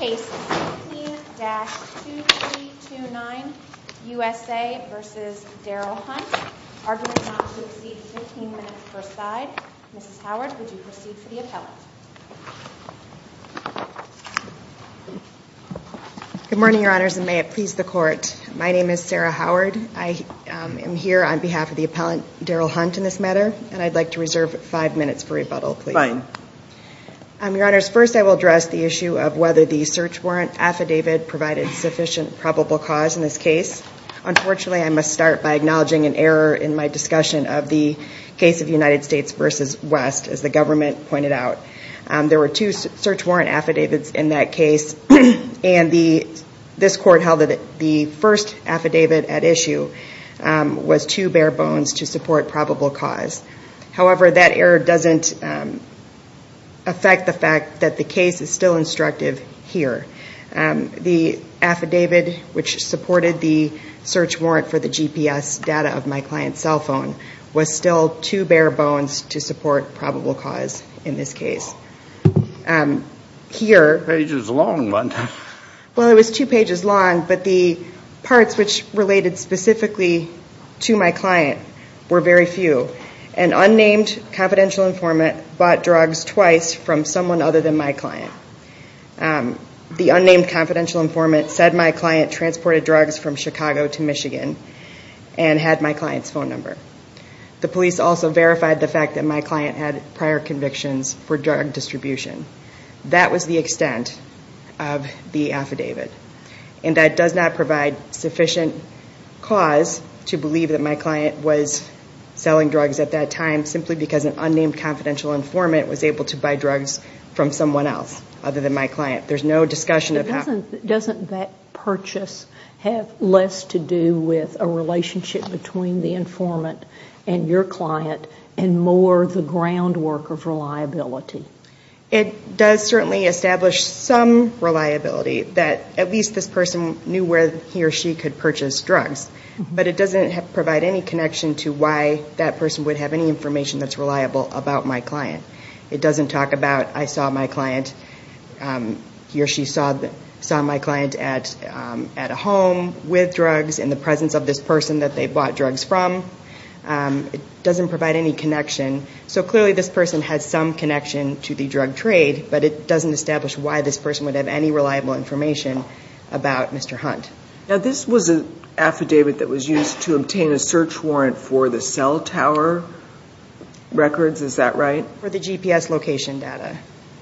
Good morning, Your Honors, and may it please the Court, my name is Sarah Howard. I am here on behalf of the appellant Darrell Hunt in this matter, and I'd like to reserve five minutes for rebuttal, please. Your Honors, first I will address the issue of whether the search warrant affidavit provided sufficient probable cause in this case. Unfortunately, I must start by acknowledging an error in my discussion of the case of United States v. West, as the government pointed out. There were two search warrant affidavits in that case, and this Court held that the first affidavit at issue was too bare-bones to support probable cause. However, that error doesn't affect the fact that the case is still instructive here. The affidavit which supported the search warrant for the GPS data of my client's cell phone was still too bare-bones to support probable cause in this case. Here, well it was two pages long, but the parts which related specifically to my client were very few. An unnamed confidential informant bought drugs twice from someone other than my client. The unnamed confidential informant said my client transported drugs from Chicago to Michigan and had my client's phone number. The police also verified the fact that my client had prior convictions for drug distribution. That was the extent of the affidavit, and that does not provide sufficient cause to believe that my client was selling drugs at that time simply because an unnamed confidential informant was able to buy drugs from someone else other than my client. There's no discussion of how. Doesn't that purchase have less to do with a relationship between the informant and your client and more the groundwork of reliability? It does certainly establish some reliability that at least this person knew where he or she could purchase drugs, but it doesn't provide any connection to why that person would have any information that's reliable about my client. It doesn't talk about I saw my client, he or she saw my client at a home with drugs in the presence of this person that they bought drugs from. It doesn't provide any connection. So clearly this person has some connection to the drug trade, but it doesn't establish why this person would have any reliable information about Mr. Hunt. Now this was an affidavit that was used to obtain a search warrant for the cell tower records, is that right? For the GPS location data.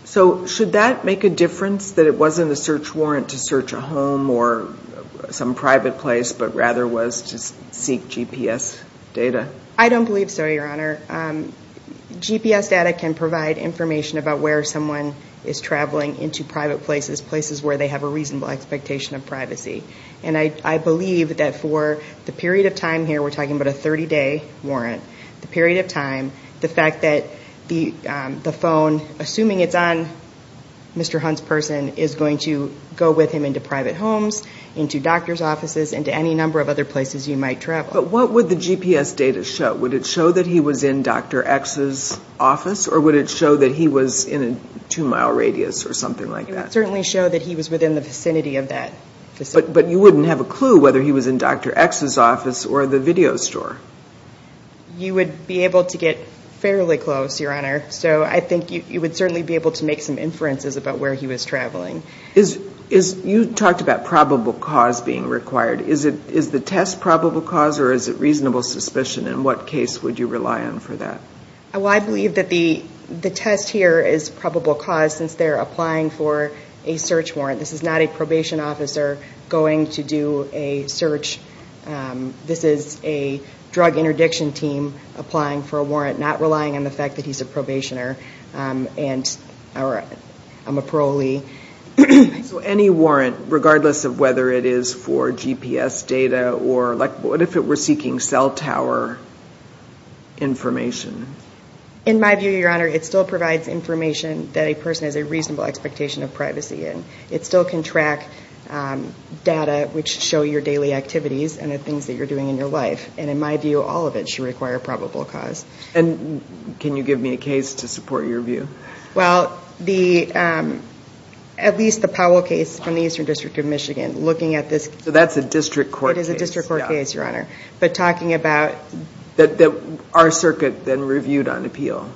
So should that make a difference that it wasn't a search warrant to search a home or some private place, but rather was to seek GPS data? I believe that for the period of time here we're talking about a 30-day warrant, the period of time, the fact that the phone, assuming it's on Mr. Hunt's person, is going to go with him into private homes, into doctor's offices, into any number of other places you might travel. But what would the GPS data show? Would it show that he was in Dr. X's office or would it show that he was in a two-mile radius or something like that? It would certainly show that he was within the vicinity of that facility. But you wouldn't have a clue whether he was in Dr. X's office or the video store. You would be able to get fairly close, Your Honor. So I think you would certainly be able to make some inferences about where he was traveling. You talked about probable cause being required. Is the test probable cause or is it reasonable suspicion? In what case would you rely on for that? Well, I believe that the test here is probable cause since they're applying for a search warrant. This is not a probation officer going to do a search. This is a drug interdiction team applying for a warrant, not relying on the fact that he's a probationer or a parolee. So any warrant, regardless of whether it is for GPS data or like what if it were seeking cell tower information? In my view, Your Honor, it still provides information that a person has a reasonable expectation of privacy in. It still can track data which show your daily activities and the things that you're doing in your life. And in my view, all of it should require probable cause. And can you give me a case to support your view? Well, at least the Powell case from the Eastern District of So that's a district court case. It is a district court case, Your Honor. But talking about... That our circuit then reviewed on appeal?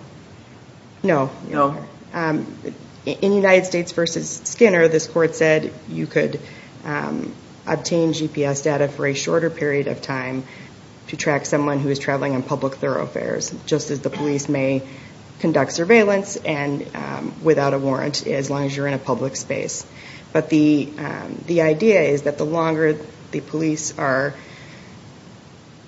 No. In United States versus Skinner, this court said you could obtain GPS data for a shorter period of time to track someone who is traveling on public thoroughfares, just as the police may conduct surveillance and without a warrant as long as you're in a the longer the police are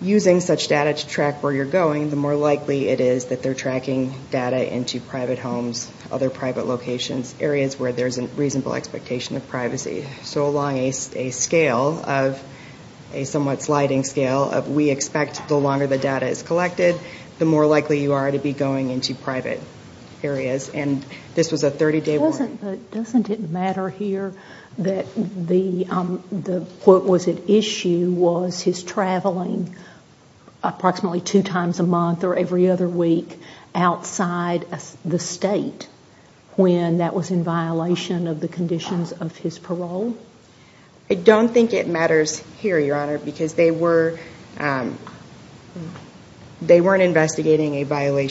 using such data to track where you're going, the more likely it is that they're tracking data into private homes, other private locations, areas where there's a reasonable expectation of privacy. So along a scale of a somewhat sliding scale of we expect the longer the data is collected, the more likely you are to be going into private areas. And this was a 30-day warrant. Doesn't it matter here that the, what was at issue, was his traveling approximately two times a month or every other week outside the state when that was in violation of the conditions of his parole? I don't think it matters here, Your Honor, because they weren't investigating a I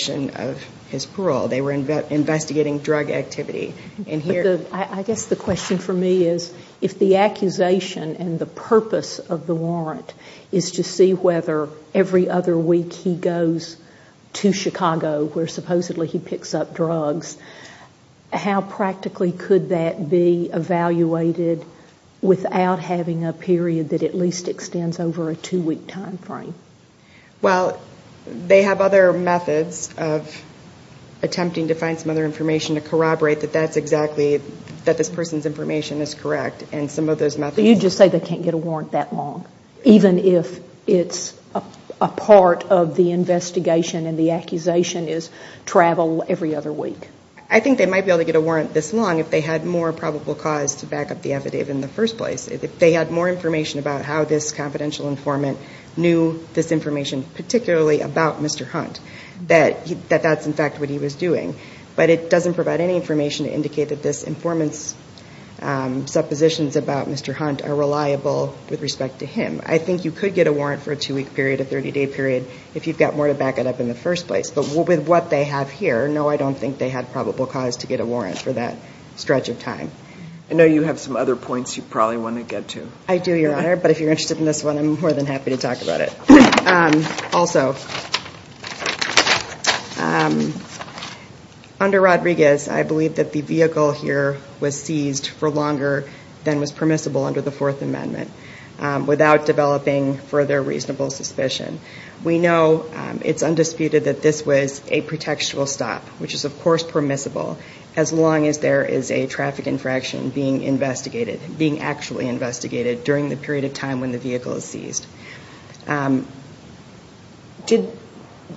guess the question for me is, if the accusation and the purpose of the warrant is to see whether every other week he goes to Chicago where supposedly he picks up drugs, how practically could that be evaluated without having a period that at least extends over a two-week time frame? Well, they have other methods of attempting to find some other information to corroborate that that's exactly, that this person's information is correct and some of those methods. You just say they can't get a warrant that long, even if it's a part of the investigation and the accusation is travel every other week? I think they might be able to get a warrant this long if they had more probable cause to back up the affidavit in the first place. If they had more information about how this confidential informant knew this information, particularly about Mr. Hunt, that that's in fact what he was doing. But it doesn't have the information to indicate that this informant's suppositions about Mr. Hunt are reliable with respect to him. I think you could get a warrant for a two-week period, a 30-day period, if you've got more to back it up in the first place. But with what they have here, no, I don't think they had probable cause to get a warrant for that stretch of time. I know you have some other points you probably want to get to. I do, Your Honor, but if you're interested in this one, I'm more than happy to talk about it. Also, under Rodriguez, I believe that the vehicle here was seized for longer than was permissible under the Fourth Amendment without developing further reasonable suspicion. We know it's undisputed that this was a pretextual stop, which is of course permissible, as long as there is a traffic infraction being investigated, being actually investigated during the stop.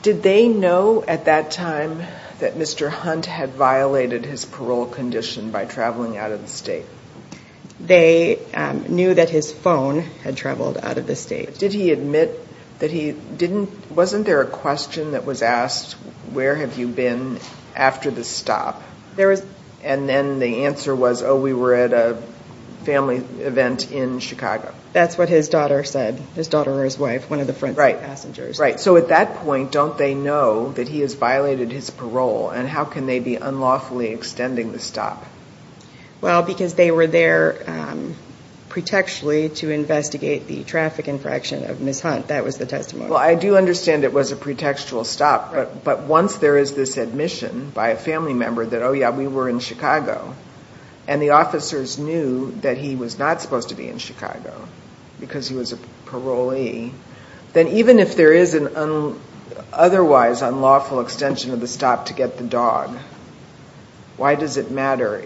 Did they know at that time that Mr. Hunt had violated his parole condition by traveling out of the state? They knew that his phone had traveled out of the state. Did he admit that he didn't, wasn't there a question that was asked, where have you been after the stop? There was. And then the answer was, oh, we were at a family event in Chicago. That's what his daughter said, his daughter or his wife, one of the front seat passengers. Right. So at that point, don't they know that he has violated his parole, and how can they be unlawfully extending the stop? Well, because they were there pretextually to investigate the traffic infraction of Ms. Hunt. That was the testimony. Well, I do understand it was a pretextual stop, but once there is this admission by a family member that, oh yeah, we were in Chicago, and the officers knew that he was not supposed to be in Chicago because he was a parolee, then even if there is an otherwise unlawful extension of the stop to get the dog, why does it matter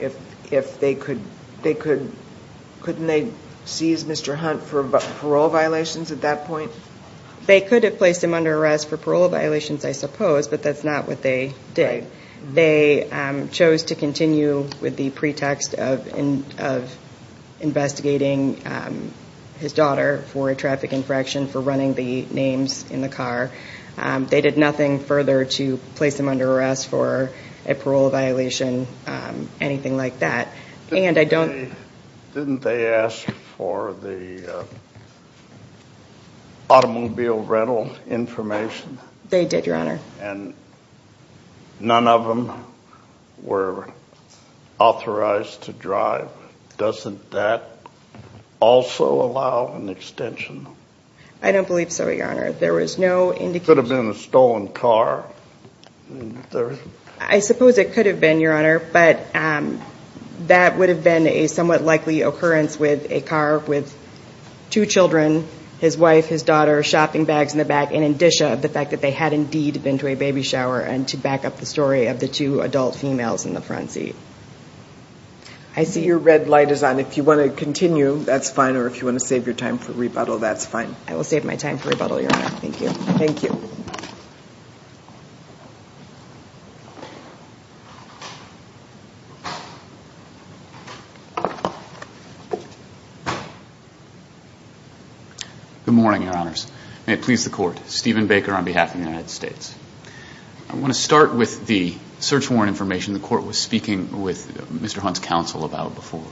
if they could, couldn't they seize Mr. Hunt for parole violations at that point? They could have placed him under arrest for parole violations, I chose to continue with the pretext of investigating his daughter for a traffic infraction, for running the names in the car. They did nothing further to place him under arrest for a parole violation, anything like that. And I don't. Didn't they ask for the automobile rental information? They did, Your Honor. And none of them were authorized to drive. Doesn't that also allow an extension? I don't believe so, Your Honor. There was no indication. Could have been a stolen car? I suppose it could have been, Your Honor, but that would have been a somewhat likely occurrence with a car with two children, his wife, his daughter, shopping bags in the back, in addition of the fact that they had indeed been to a baby shower, and to back up the story of the two adult females in the front seat. I see your red light is on. If you want to continue, that's fine, or if you want to save your time for rebuttal, that's fine. I will save my time for rebuttal, Your Honor. Thank you. Thank you. Good morning, Your Honors. May it please the Court, Stephen Baker on behalf of the United States. I want to start with the search warrant information the Court was speaking with Mr. Hunt's counsel about before.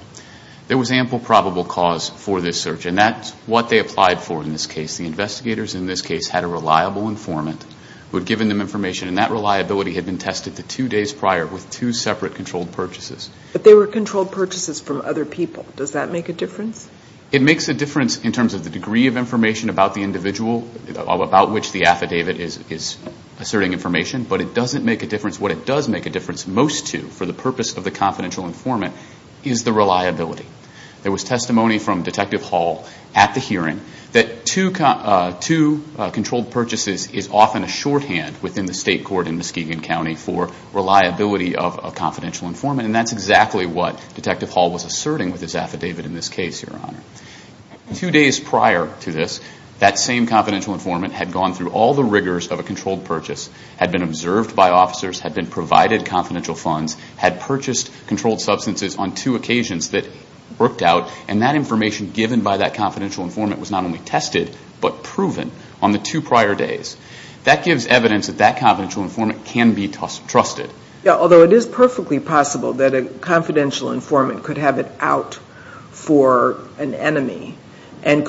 There was ample probable cause for this search, and that's what they applied for in this case. The investigators in this case had a reliable informant who had given them information, and that reliability had been tested the two days prior with two separate controlled purchases. But they were controlled purchases from other people. Does that make a difference? It makes a difference in terms of the degree of information about the individual, about which the affidavit is asserting information, but it doesn't make a difference. What it does make a difference most to, for the purpose of the confidential informant, is the reliability. There was testimony from Detective Hall at the hearing that two controlled purchases is often a shorthand within the state court in Muskegon County for reliability of a confidential informant, and that's exactly what Detective Hall was talking about. That same confidential informant had gone through all the rigors of a controlled purchase, had been observed by officers, had been provided confidential funds, had purchased controlled substances on two occasions that worked out, and that information given by that confidential informant was not only tested, but proven on the two prior days. That gives evidence that that confidential informant can be trusted. Although it is perfectly possible that a confidential informant could have it out for an individual, that confidential informant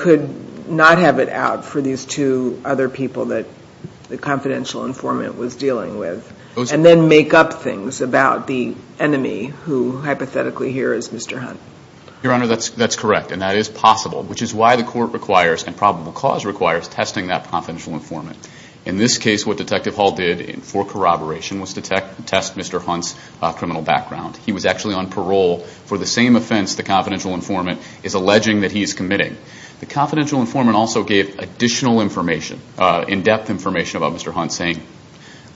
could have it out for these two other people that the confidential informant was dealing with, and then make up things about the enemy, who hypothetically here is Mr. Hunt. Your Honor, that's correct, and that is possible, which is why the court requires, and probable cause requires, testing that confidential informant. In this case, what Detective Hall did for corroboration was to test Mr. Hunt's criminal background. He was actually on parole for the same offense the confidential informant is alleging that he is committing. The confidential informant also gave additional information, in-depth information about Mr. Hunt, saying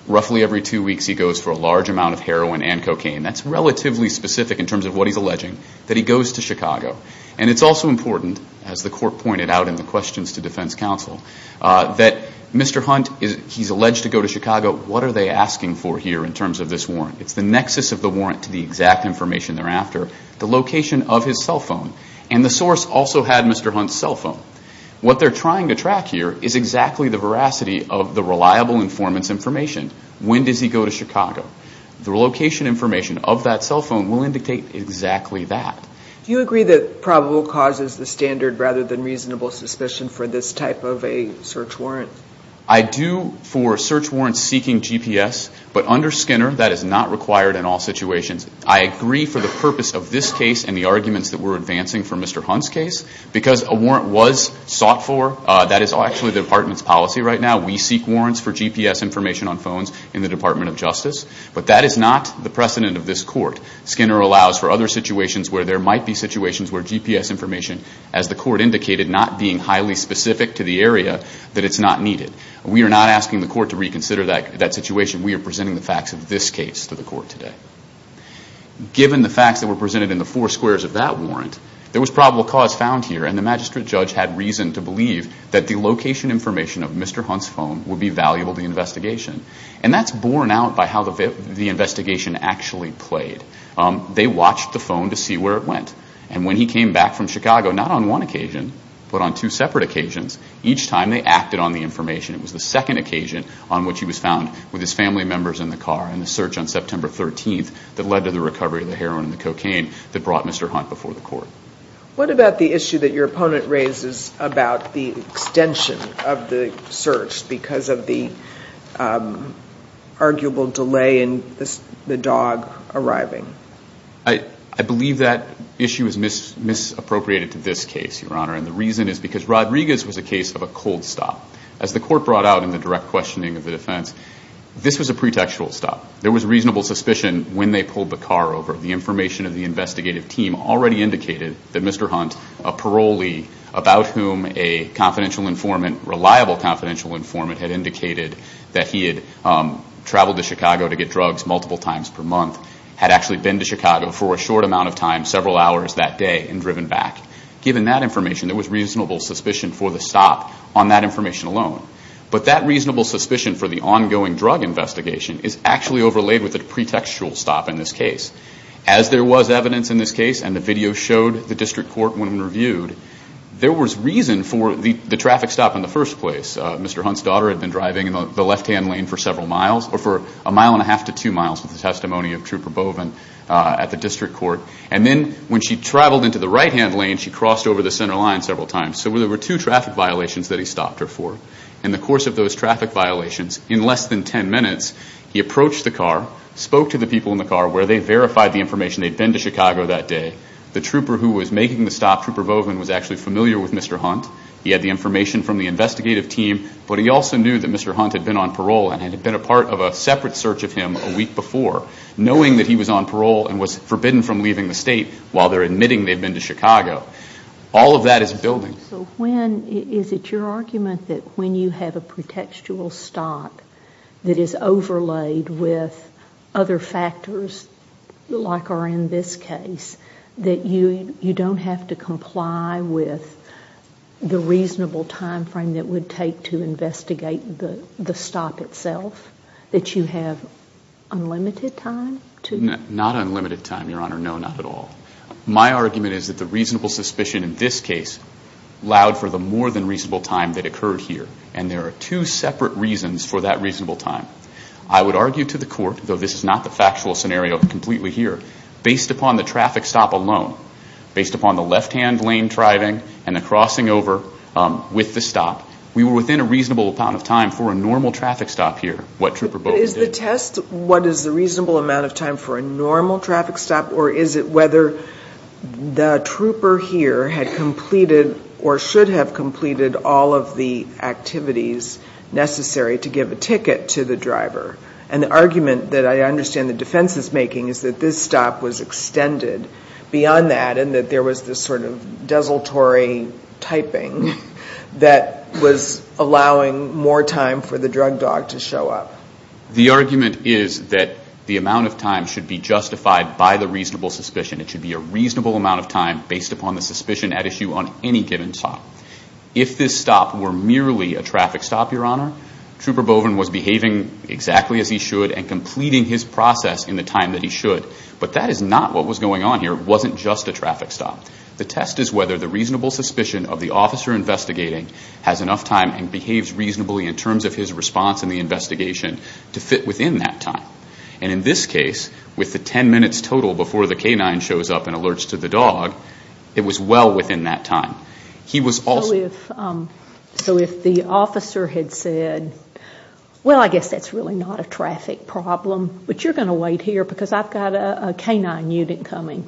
roughly every two weeks he goes for a large amount of heroin and cocaine. That's relatively specific in terms of what he's alleging, that he goes to Chicago. And it's also important, as the court pointed out in the questions to defense counsel, that Mr. Hunt, he's alleged to go to Chicago. What are they asking for here in terms of this warrant? It's the nexus of the warrant to the exact information thereafter, the location of his cell phone. And the source also had Mr. Hunt's cell phone. What they're trying to track here is exactly the veracity of the reliable informant's information. When does he go to Chicago? The location information of that cell phone will indicate exactly that. Do you agree that probable cause is the standard rather than reasonable suspicion for this type of a search warrant? I do for search warrants seeking GPS, but under Skinner, that is not required in all situations. I agree for the purpose of this case and the arguments that we're advancing for Mr. Hunt's case, because a warrant was sought for. That is actually the department's policy right now. We seek warrants for GPS information on phones in the Department of Justice. But that is not the precedent of this court. Skinner allows for other situations where there might be situations where GPS information, as the court indicated, not being highly specific to the area, that it's not needed. We are not asking the court to reconsider that situation. We are asking the court today. Given the facts that were presented in the four squares of that warrant, there was probable cause found here and the magistrate judge had reason to believe that the location information of Mr. Hunt's phone would be valuable to the investigation. And that's borne out by how the investigation actually played. They watched the phone to see where it went. And when he came back from Chicago, not on one occasion, but on two separate occasions, each time they acted on the information. It was the second occasion on which he was led to the recovery of the heroin and the cocaine that brought Mr. Hunt before the court. What about the issue that your opponent raises about the extension of the search because of the arguable delay in the dog arriving? I believe that issue is misappropriated to this case, Your Honor. And the reason is because Rodriguez was a case of a cold stop. As the court brought out in the direct questioning of the defense, this was a pretextual stop. There was reasonable suspicion when they pulled the car over. The information of the investigative team already indicated that Mr. Hunt, a parolee about whom a confidential informant, reliable confidential informant had indicated that he had traveled to Chicago to get drugs multiple times per month, had actually been to Chicago for a short amount of time, several hours that day and driven back. Given that information, there was reasonable suspicion for the stop on that information alone. But that reasonable suspicion for the ongoing drug investigation is actually overlaid with a pretextual stop in this case. As there was evidence in this case and the video showed the district court when reviewed, there was reason for the traffic stop in the first place. Mr. Hunt's daughter had been driving in the left-hand lane for several miles or for a mile and a half to two miles with the testimony of Trooper Boven at the district court. And then when she traveled into the right-hand lane, she crossed over the center line several times. So there were two traffic violations that he stopped her for. In the course of those traffic violations, in less than ten minutes, he approached the car, spoke to the people in the car where they verified the information. They'd been to Chicago that day. The trooper who was making the stop, Trooper Boven, was actually familiar with Mr. Hunt. He had the information from the investigative team, but he also knew that Mr. Hunt had been on parole and had been a part of a separate search of him a week before, knowing that he was on parole and was forbidden from leaving the state while they're admitting they've been to Chicago. All of that is building. So when, is it your argument that when you have a pretextual stop that is overlaid with other factors, like are in this case, that you don't have to comply with the reasonable time frame that would take to investigate the stop itself? That you have unlimited time to? Not unlimited time, Your Honor. No, not at all. My argument is that the reasonable suspicion in this case allowed for the more than reasonable time that occurred here. And there are two separate reasons for that reasonable time. I would argue to the court, though this is not the factual scenario completely here, based upon the traffic stop alone, based upon the left-hand lane driving and the crossing over with the stop, we were within a reasonable amount of time for a normal traffic stop here, what Trooper Boven did. Is the test, what is the reasonable amount of time for a normal traffic stop? Or is it whether the trooper here had completed or should have completed all of the activities necessary to give a ticket to the driver? And the argument that I understand the defense is making is that this stop was extended beyond that and that there was this sort of desultory typing that was allowing more time for the drug dog to show up. The argument is that the amount of time should be justified by the reasonable suspicion. It should be a reasonable amount of time based upon the suspicion at issue on any given stop. If this stop were merely a traffic stop, Your Honor, Trooper Boven was behaving exactly as he should and completing his process in the time that he should. But that is not what was going on here. It wasn't just a traffic stop. The test is whether the reasonable suspicion of the officer investigating has enough time and behaves reasonably in terms of his response in the investigation to fit within that time. And in this case, with the ten minutes total before the canine shows up and alerts to the dog, it was well within that time. He was also So if the officer had said, well, I guess that's really not a traffic problem, but you're going to wait here because I've got a canine unit coming.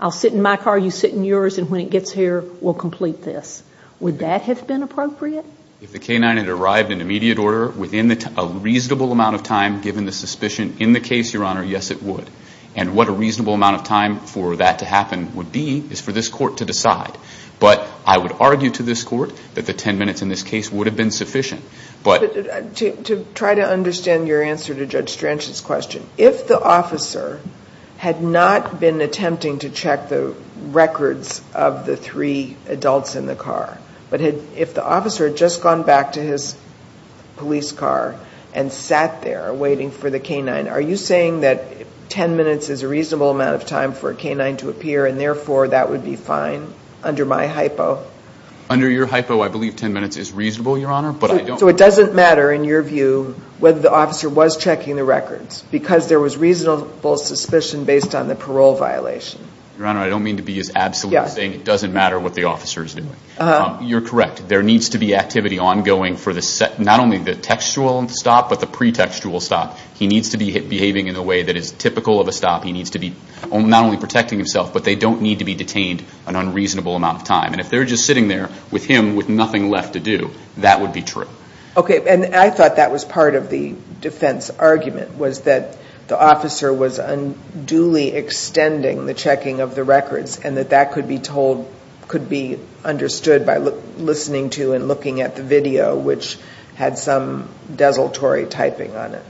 I'll sit in my car, you sit in yours, and when it gets here, we'll complete this. Would that have been appropriate? If the canine had arrived in immediate order within a reasonable amount of time, given the suspicion in the case, Your Honor, yes, it would. And what a reasonable amount of time for that to happen would be is for this Court to decide. But I would argue to this Court that the ten minutes in this case would have been sufficient. But to try to understand your answer to Judge Strange's question, if the officer had not been attempting to check the records of the three adults in the car, but if the officer had just gone back to his police car and sat there waiting for the canine, are you saying that ten minutes is a reasonable amount of time for a canine to appear, and therefore that would be fine under my hypo? Under your hypo, I believe ten minutes is reasonable, Your Honor, but I don't So it doesn't matter in your view whether the officer was checking the records because there was reasonable suspicion based on the parole violation? Your Honor, I don't mean to be as absolute in saying it doesn't matter what the officer is doing. You're correct. There needs to be activity ongoing for not only the textual stop, but the pretextual stop. He needs to be behaving in a way that is typical of a stop. He needs to be not only protecting himself, but they don't need to be detained an unreasonable amount of time. And if they're just sitting there with him with nothing left to do, that would be true. Okay. And I thought that was part of the defense argument, was that the officer was unduly extending the checking of the records, and that that could be understood by listening to and looking at the video, which had some desultory typing on it.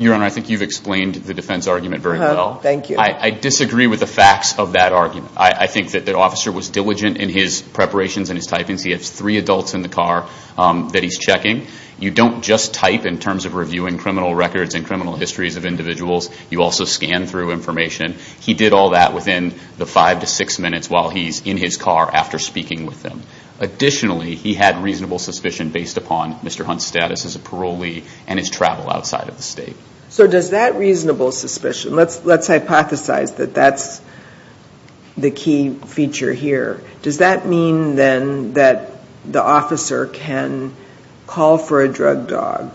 Your Honor, I think you've explained the defense argument very well. Uh-huh. Thank you. I disagree with the facts of that argument. I think that the officer was diligent in his preparations and his typings. He has three adults in the car that he's checking. You don't just type in terms of reviewing criminal records and criminal histories of individuals. You also scan through information. He did all that within the five to six minutes while he's in his car after speaking with them. Additionally, he had reasonable suspicion based upon Mr. Hunt's status as a parolee and his travel outside of the state. So does that reasonable suspicion, let's hypothesize that that's the key feature here, does that mean then that the officer can call for a drug dog,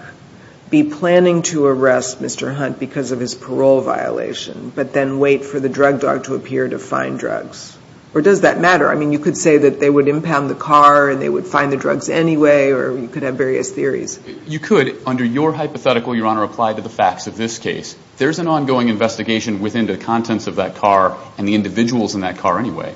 be planning to arrest Mr. Hunt because of his parole violation, but then wait for the drug dog to appear to find drugs? Or does that matter? I mean, you could say that they would impound the car and they would find the drugs anyway, or you could have various theories. You could. Under your hypothetical, Your Honor, apply to the facts of this case. There's an ongoing investigation within the contents of that car and the individuals in that car anyway.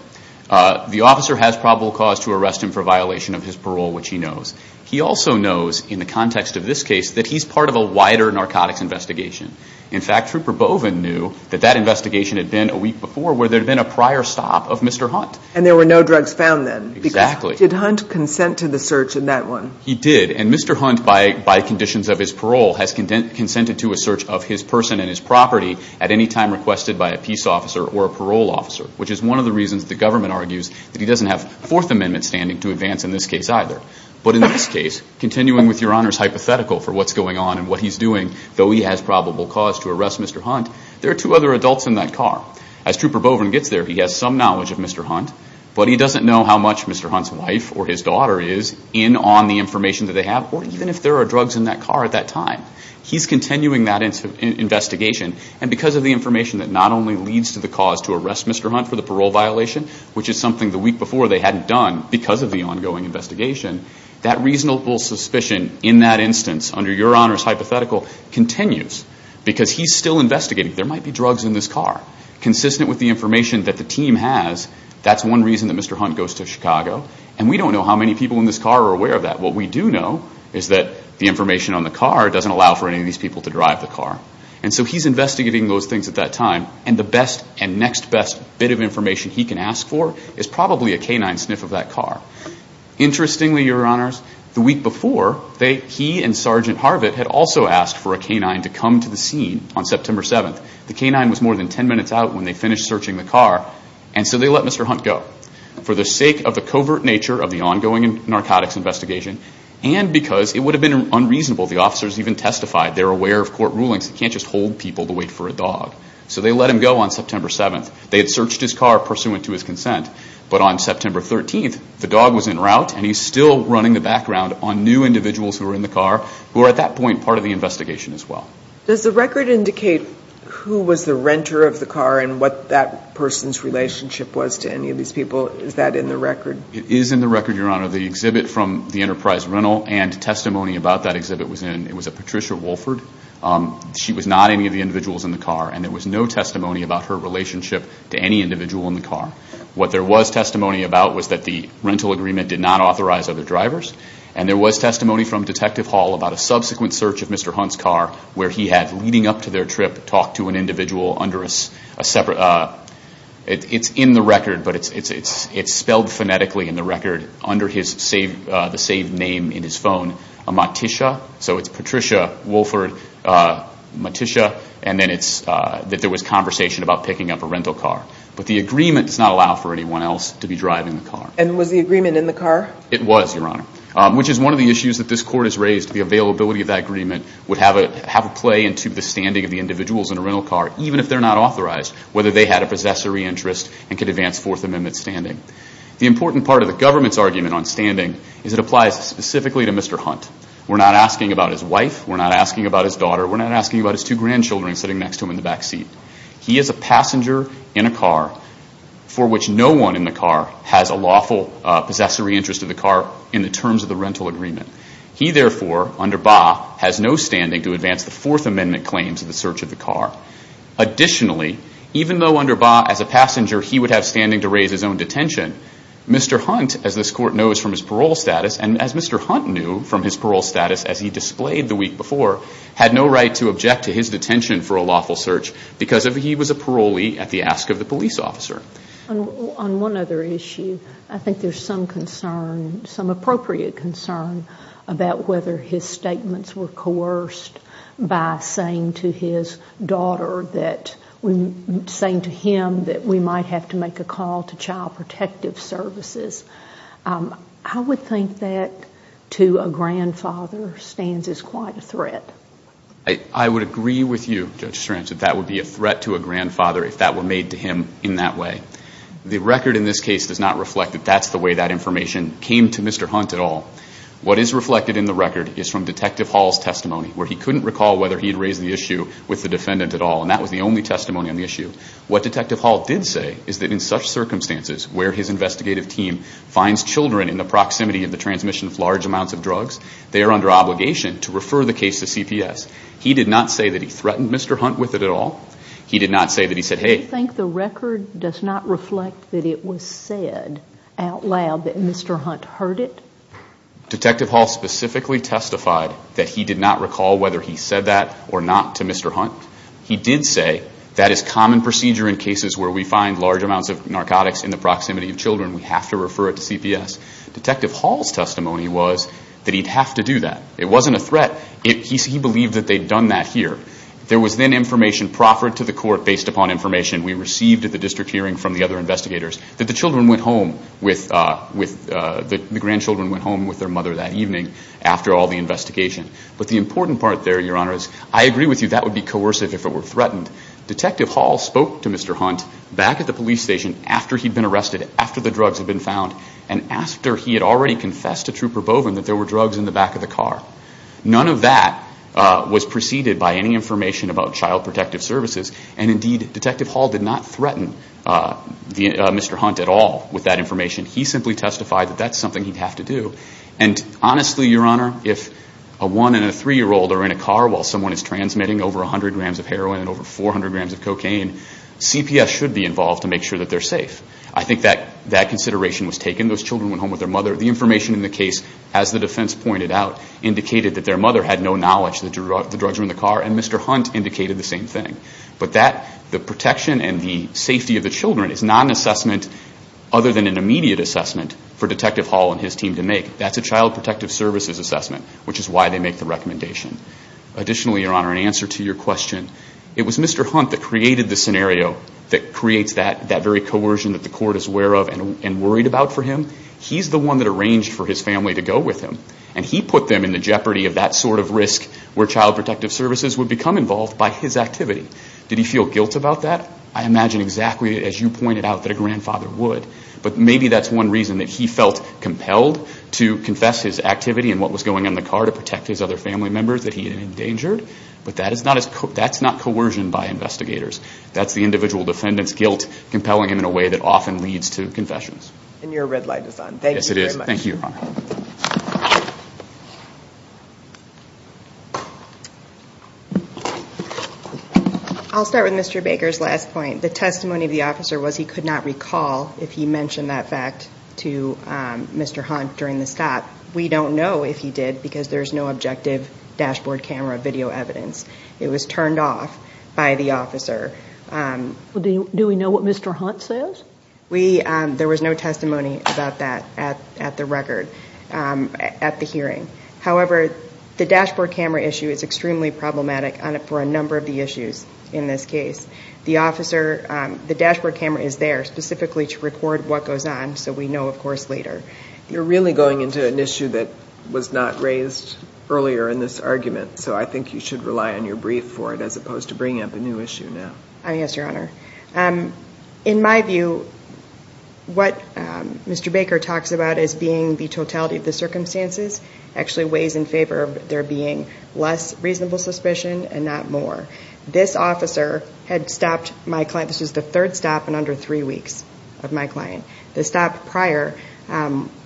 The officer has probable cause to arrest him for violation of his parole, which he knows. He also knows, in the context of this case, that he's part of a wider narcotics investigation. In fact, Trooper Boven knew that that investigation had been a week before where there had been a prior stop of Mr. Hunt. And there were no drugs found then? Exactly. Did Hunt consent to the search in that one? He did. And Mr. Hunt, by conditions of his parole, has consented to a search of his person and his property at any time requested by a peace officer or a parole officer, which is one of the reasons the government argues that he doesn't have Fourth Amendment standing to advance in this case either. But in this case, continuing with Your Honor's hypothetical for what's going on and what he's doing, though he has probable cause to arrest Mr. Hunt, there are two other adults in that car. As Trooper Boven gets there, he has some knowledge of Mr. Hunt, but he doesn't know how much Mr. Hunt's wife or his daughter is in on the information that they have or even if there are drugs in that car at that time. He's continuing that investigation. And because of the information that not only leads to the cause to arrest Mr. Hunt for the parole violation, which is something the week before they hadn't done because of the ongoing investigation, that reasonable suspicion in that instance, under Your Honor's hypothetical, continues because he's still investigating. There might be drugs in this car. Consistent with the information that the team has, that's one reason that Mr. Hunt goes to Chicago. And we don't know how many people in this car are aware of that. What we do know is that the information on the car doesn't allow for any of these people to drive the car. And so he's investigating those things at that time. And the best and next best bit of information he can ask for is probably a canine sniff of that car. Interestingly, Your Honors, the week before, Lieutenant Harvett had also asked for a canine to come to the scene on September 7th. The canine was more than 10 minutes out when they finished searching the car. And so they let Mr. Hunt go. For the sake of the covert nature of the ongoing narcotics investigation and because it would have been unreasonable, the officers even testified they were aware of court rulings. You can't just hold people to wait for a dog. So they let him go on September 7th. They had searched his car pursuant to his consent. But on September 13th, the dog was en route and he's still running the background on new At that point, part of the investigation as well. Does the record indicate who was the renter of the car and what that person's relationship was to any of these people? Is that in the record? It is in the record, Your Honor. The exhibit from the Enterprise Rental and testimony about that exhibit was in, it was a Patricia Wohlford. She was not any of the individuals in the car. And there was no testimony about her relationship to any individual in the car. What there was testimony about was that the rental agreement did not authorize other drivers. And there was a subsequent search of Mr. Hunt's car where he had, leading up to their trip, talked to an individual under a separate, it's in the record, but it's spelled phonetically in the record under the saved name in his phone, a Matisha. So it's Patricia Wohlford Matisha. And then there was conversation about picking up a rental car. But the agreement does not allow for anyone else to be driving the car. And was the agreement in the car? It was, Your Honor. Which is one of the issues that this court has raised, the availability of that agreement would have a play into the standing of the individuals in a rental car, even if they're not authorized, whether they had a possessory interest and could advance Fourth Amendment standing. The important part of the government's argument on standing is it applies specifically to Mr. Hunt. We're not asking about his wife. We're not asking about his daughter. We're not asking about his two grandchildren sitting next to him in the back seat. He is a passenger in a car for which no one in the car has a lawful possessory interest in the car in the terms of the rental agreement. He, therefore, under Baugh, has no standing to advance the Fourth Amendment claims in the search of the car. Additionally, even though under Baugh, as a passenger, he would have standing to raise his own detention, Mr. Hunt, as this court knows from his parole status, and as Mr. Hunt knew from his parole status as he displayed the week before, had no right to object to his detention for a lawful search because he was a parolee at the ask of the police officer. On one other issue, I think there's some concern, some appropriate concern, about whether his statements were coerced by saying to his daughter that, saying to him that we might have to make a call to child protective services. I would think that to a grandfather stands as quite a threat. I would agree with you, Judge Strange, that that would be a threat to a The record in this case does not reflect that that's the way that information came to Mr. Hunt at all. What is reflected in the record is from Detective Hall's testimony, where he couldn't recall whether he had raised the issue with the defendant at all, and that was the only testimony on the issue. What Detective Hall did say is that in such circumstances where his investigative team finds children in the proximity of the transmission of large amounts of drugs, they are under obligation to refer the case to CPS. He did not say that he threatened Mr. Hunt with it at all. He did not say that he said, hey... Do you think the record does not reflect that it was said out loud that Mr. Hunt heard it? Detective Hall specifically testified that he did not recall whether he said that or not to Mr. Hunt. He did say that is common procedure in cases where we find large amounts of narcotics in the proximity of children, we have to refer it to CPS. Detective Hall's testimony was that he'd have to do that. It wasn't a threat. He believed that they'd done that here. There was then information proffered to the court based upon information we received at the district hearing from the other investigators that the children went home with, the grandchildren went home with their mother that evening after all the investigation. But the important part there, Your Honor, is I agree with you that would be coercive if it were threatened. Detective Hall spoke to Mr. Hunt back at the police station after he'd been arrested, after the drugs had been found, and after he had already confessed to Trooper Boven that there were drugs in the back of the car. None of that was preceded by any information about Child Protective Services, and indeed, Detective Hall did not threaten Mr. Hunt at all with that information. He simply testified that that's something he'd have to do. And honestly, Your Honor, if a one and a three-year-old are in a car while someone is transmitting over 100 grams of heroin and over 400 grams of cocaine, CPS should be involved to make sure that they're safe. I think that consideration was taken. Those children went home with their mother. The information in the case, as the defense pointed out, indicated that their mother had no knowledge that the drugs were in the car, and Mr. Hunt indicated the same thing. But the protection and the safety of the children is not an assessment other than an immediate assessment for Detective Hall and his team to make. That's a Child Protective Services assessment, which is why they make the recommendation. Additionally, Your Honor, in answer to your question, it was Mr. Hunt that created the scenario that creates that very coercion that the court is aware of and worried about for him. He's the one that arranged for his family to go with him, and he put them in the jeopardy of that sort of risk where Child Protective Services would become involved by his activity. Did he feel guilt about that? I imagine exactly, as you pointed out, that a grandfather would, but maybe that's one reason that he felt compelled to confess his activity and what was going on in the car to protect his other family members that he had endangered. But that's not coercion by investigators. to confessions. And your red light is on. Thank you very much. Thank you, Your Honor. I'll start with Mr. Baker's last point. The testimony of the officer was he could not recall if he mentioned that fact to Mr. Hunt during the stop. We don't know if he did, because there's no objective dashboard camera video evidence. It was turned off by the officer. Do we know what Mr. Hunt says? We, there was no testimony about that at the record, at the hearing. However, the dashboard camera issue is extremely problematic for a number of the issues in this case. The officer, the dashboard camera is there specifically to record what goes on, so we know, of course, later. You're really going into an issue that was not raised earlier in this argument, so I think you should rely on your brief for it as opposed to bringing up a new issue now. Yes, Your Honor. In my view, what Mr. Baker talks about as being the totality of the circumstances actually weighs in favor of there being less reasonable suspicion and not more. This officer had stopped my client, this was the third stop in under three weeks of my client. The stop prior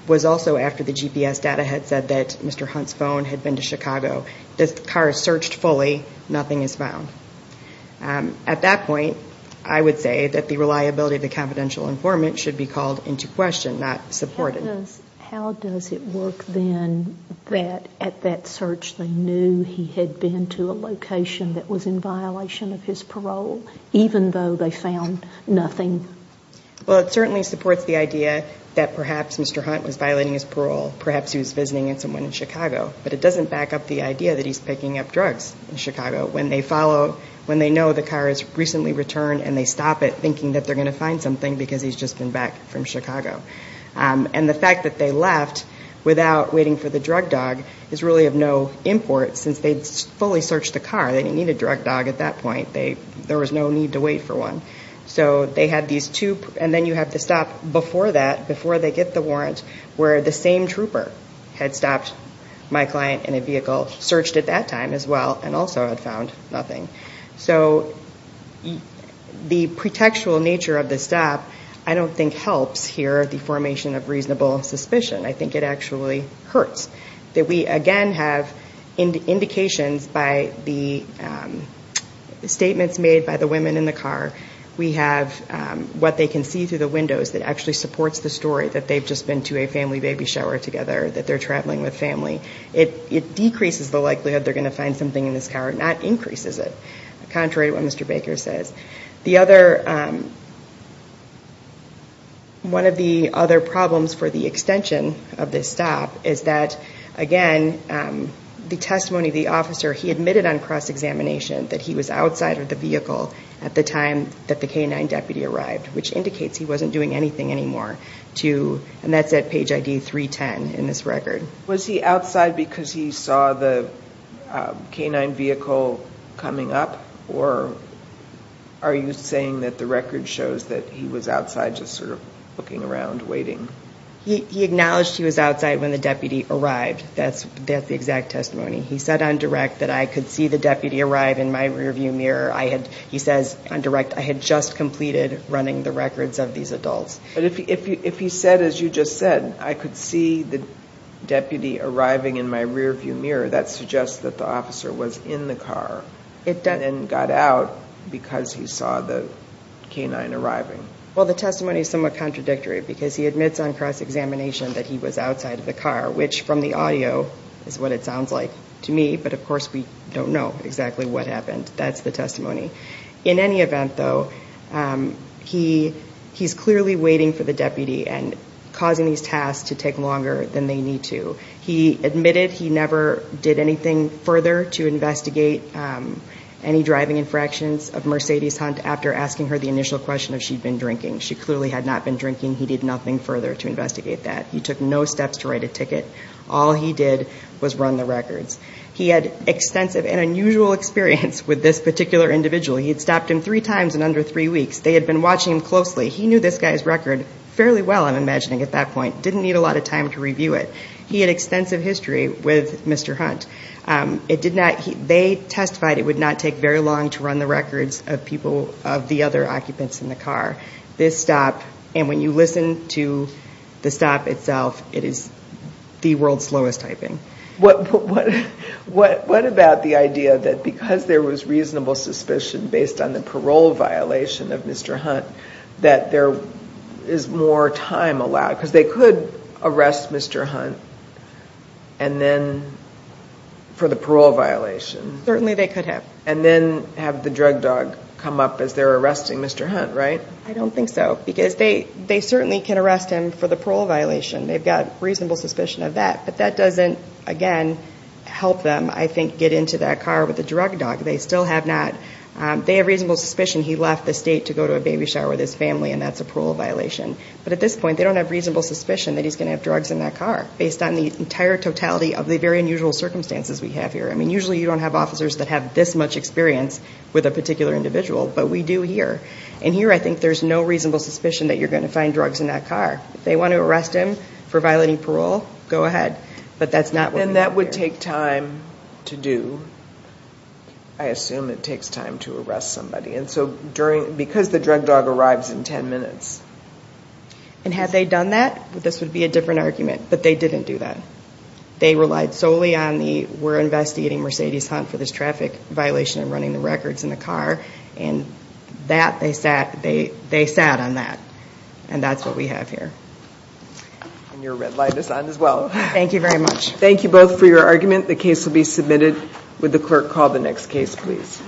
was also after the GPS data had said that Mr. Hunt's phone had been to Chicago. The car is searched fully, nothing is found. At that point, I would say that the reliability of the confidential informant should be called into question, not supported. How does it work then that at that search they knew he had been to a location that was in violation of his parole, even though they found nothing? Well, it certainly supports the idea that perhaps Mr. Hunt was violating his parole, perhaps he was visiting someone in Chicago, but when they follow, when they know the car has recently returned and they stop it thinking that they're going to find something because he's just been back from Chicago. And the fact that they left without waiting for the drug dog is really of no import since they'd fully searched the car, they didn't need a drug dog at that point, there was no need to wait for one. So they had these two, and then you have to stop before that, before they get the warrant, where the same trooper had stopped my client in a So the pretextual nature of this stop, I don't think helps here the formation of reasonable suspicion. I think it actually hurts that we again have indications by the statements made by the women in the car, we have what they can see through the windows that actually supports the story that they've just been to a family baby shower together, that they're traveling with family. It decreases the likelihood they're going to find something in this car, not increases it, contrary to what Mr. Baker says. The other, one of the other problems for the extension of this stop is that again, the testimony of the officer, he admitted on cross examination that he was outside of the vehicle at the time that the canine deputy arrived, which indicates he wasn't doing anything anymore to, and that's at page ID 310 in this record. Was he outside because he saw the canine vehicle coming up or are you saying that the record shows that he was outside just sort of looking around, waiting? He acknowledged he was outside when the deputy arrived. That's the exact testimony. He said on direct that I could see the deputy arrive in my rearview mirror. I had, he says on direct, I had just completed running the records of these adults. But if he said, as you just said, I could see the deputy arriving in my rearview mirror, that suggests that the officer was in the car and got out because he saw the canine arriving. Well, the testimony is somewhat contradictory because he admits on cross examination that he was outside of the car, which from the audio is what it sounds like to me. But of course we don't know exactly what happened. That's the testimony. In any event though, he's clearly waiting for the deputy and causing these tasks to take longer than they need to. He admitted he never did anything further to investigate any driving infractions of Mercedes Hunt after asking her the initial question if she'd been drinking. She clearly had not been drinking. He did nothing further to investigate that. He took no steps to write a ticket. All he did was run the records. He had extensive and unusual experience with this particular individual. He had stopped him three times in under three weeks. They had been watching him closely. He knew this guy's record fairly well, I'm imagining at that point. Didn't need a lot of time to review it. He had extensive history with Mr. Hunt. They testified it would not take very long to run the records of people, of the other occupants in the car. This stop, and when you listen to the stop itself, it is the world's slowest typing. What, what, what, what about the idea that because there was reasonable suspicion based on the parole violation of Mr. Hunt, that there is more time allowed? Cause they could arrest Mr. Hunt and then for the parole violation. Certainly they could have. And then have the drug dog come up as they're arresting Mr. Hunt, right? I don't think so because they, they certainly can arrest him for the parole violation. They've got reasonable suspicion of that, but that doesn't, again, help them. I think, get into that car with the drug dog. They still have not, they have reasonable suspicion. He left the state to go to a baby shower with his family and that's a parole violation. But at this point, they don't have reasonable suspicion that he's going to have drugs in that car based on the entire totality of the very unusual circumstances we have here. I mean, usually you don't have officers that have this much experience with a particular individual, but we do here. And here, I think there's no reasonable suspicion that you're going to find drugs in that car. If they want to arrest him for violating parole, go ahead. But that's not what we have here. And that would take time to do. I assume it takes time to arrest somebody. And so during, because the drug dog arrives in 10 minutes. And had they done that, this would be a different argument, but they didn't do that. They relied solely on the, we're investigating Mercedes Hunt for this traffic violation and running the records in the car. And that they sat, they, they sat on that. And that's what we have here. And your red light is on as well. Thank you very much. Thank you both for your argument. The case will be submitted with the clerk. Call the next case, please.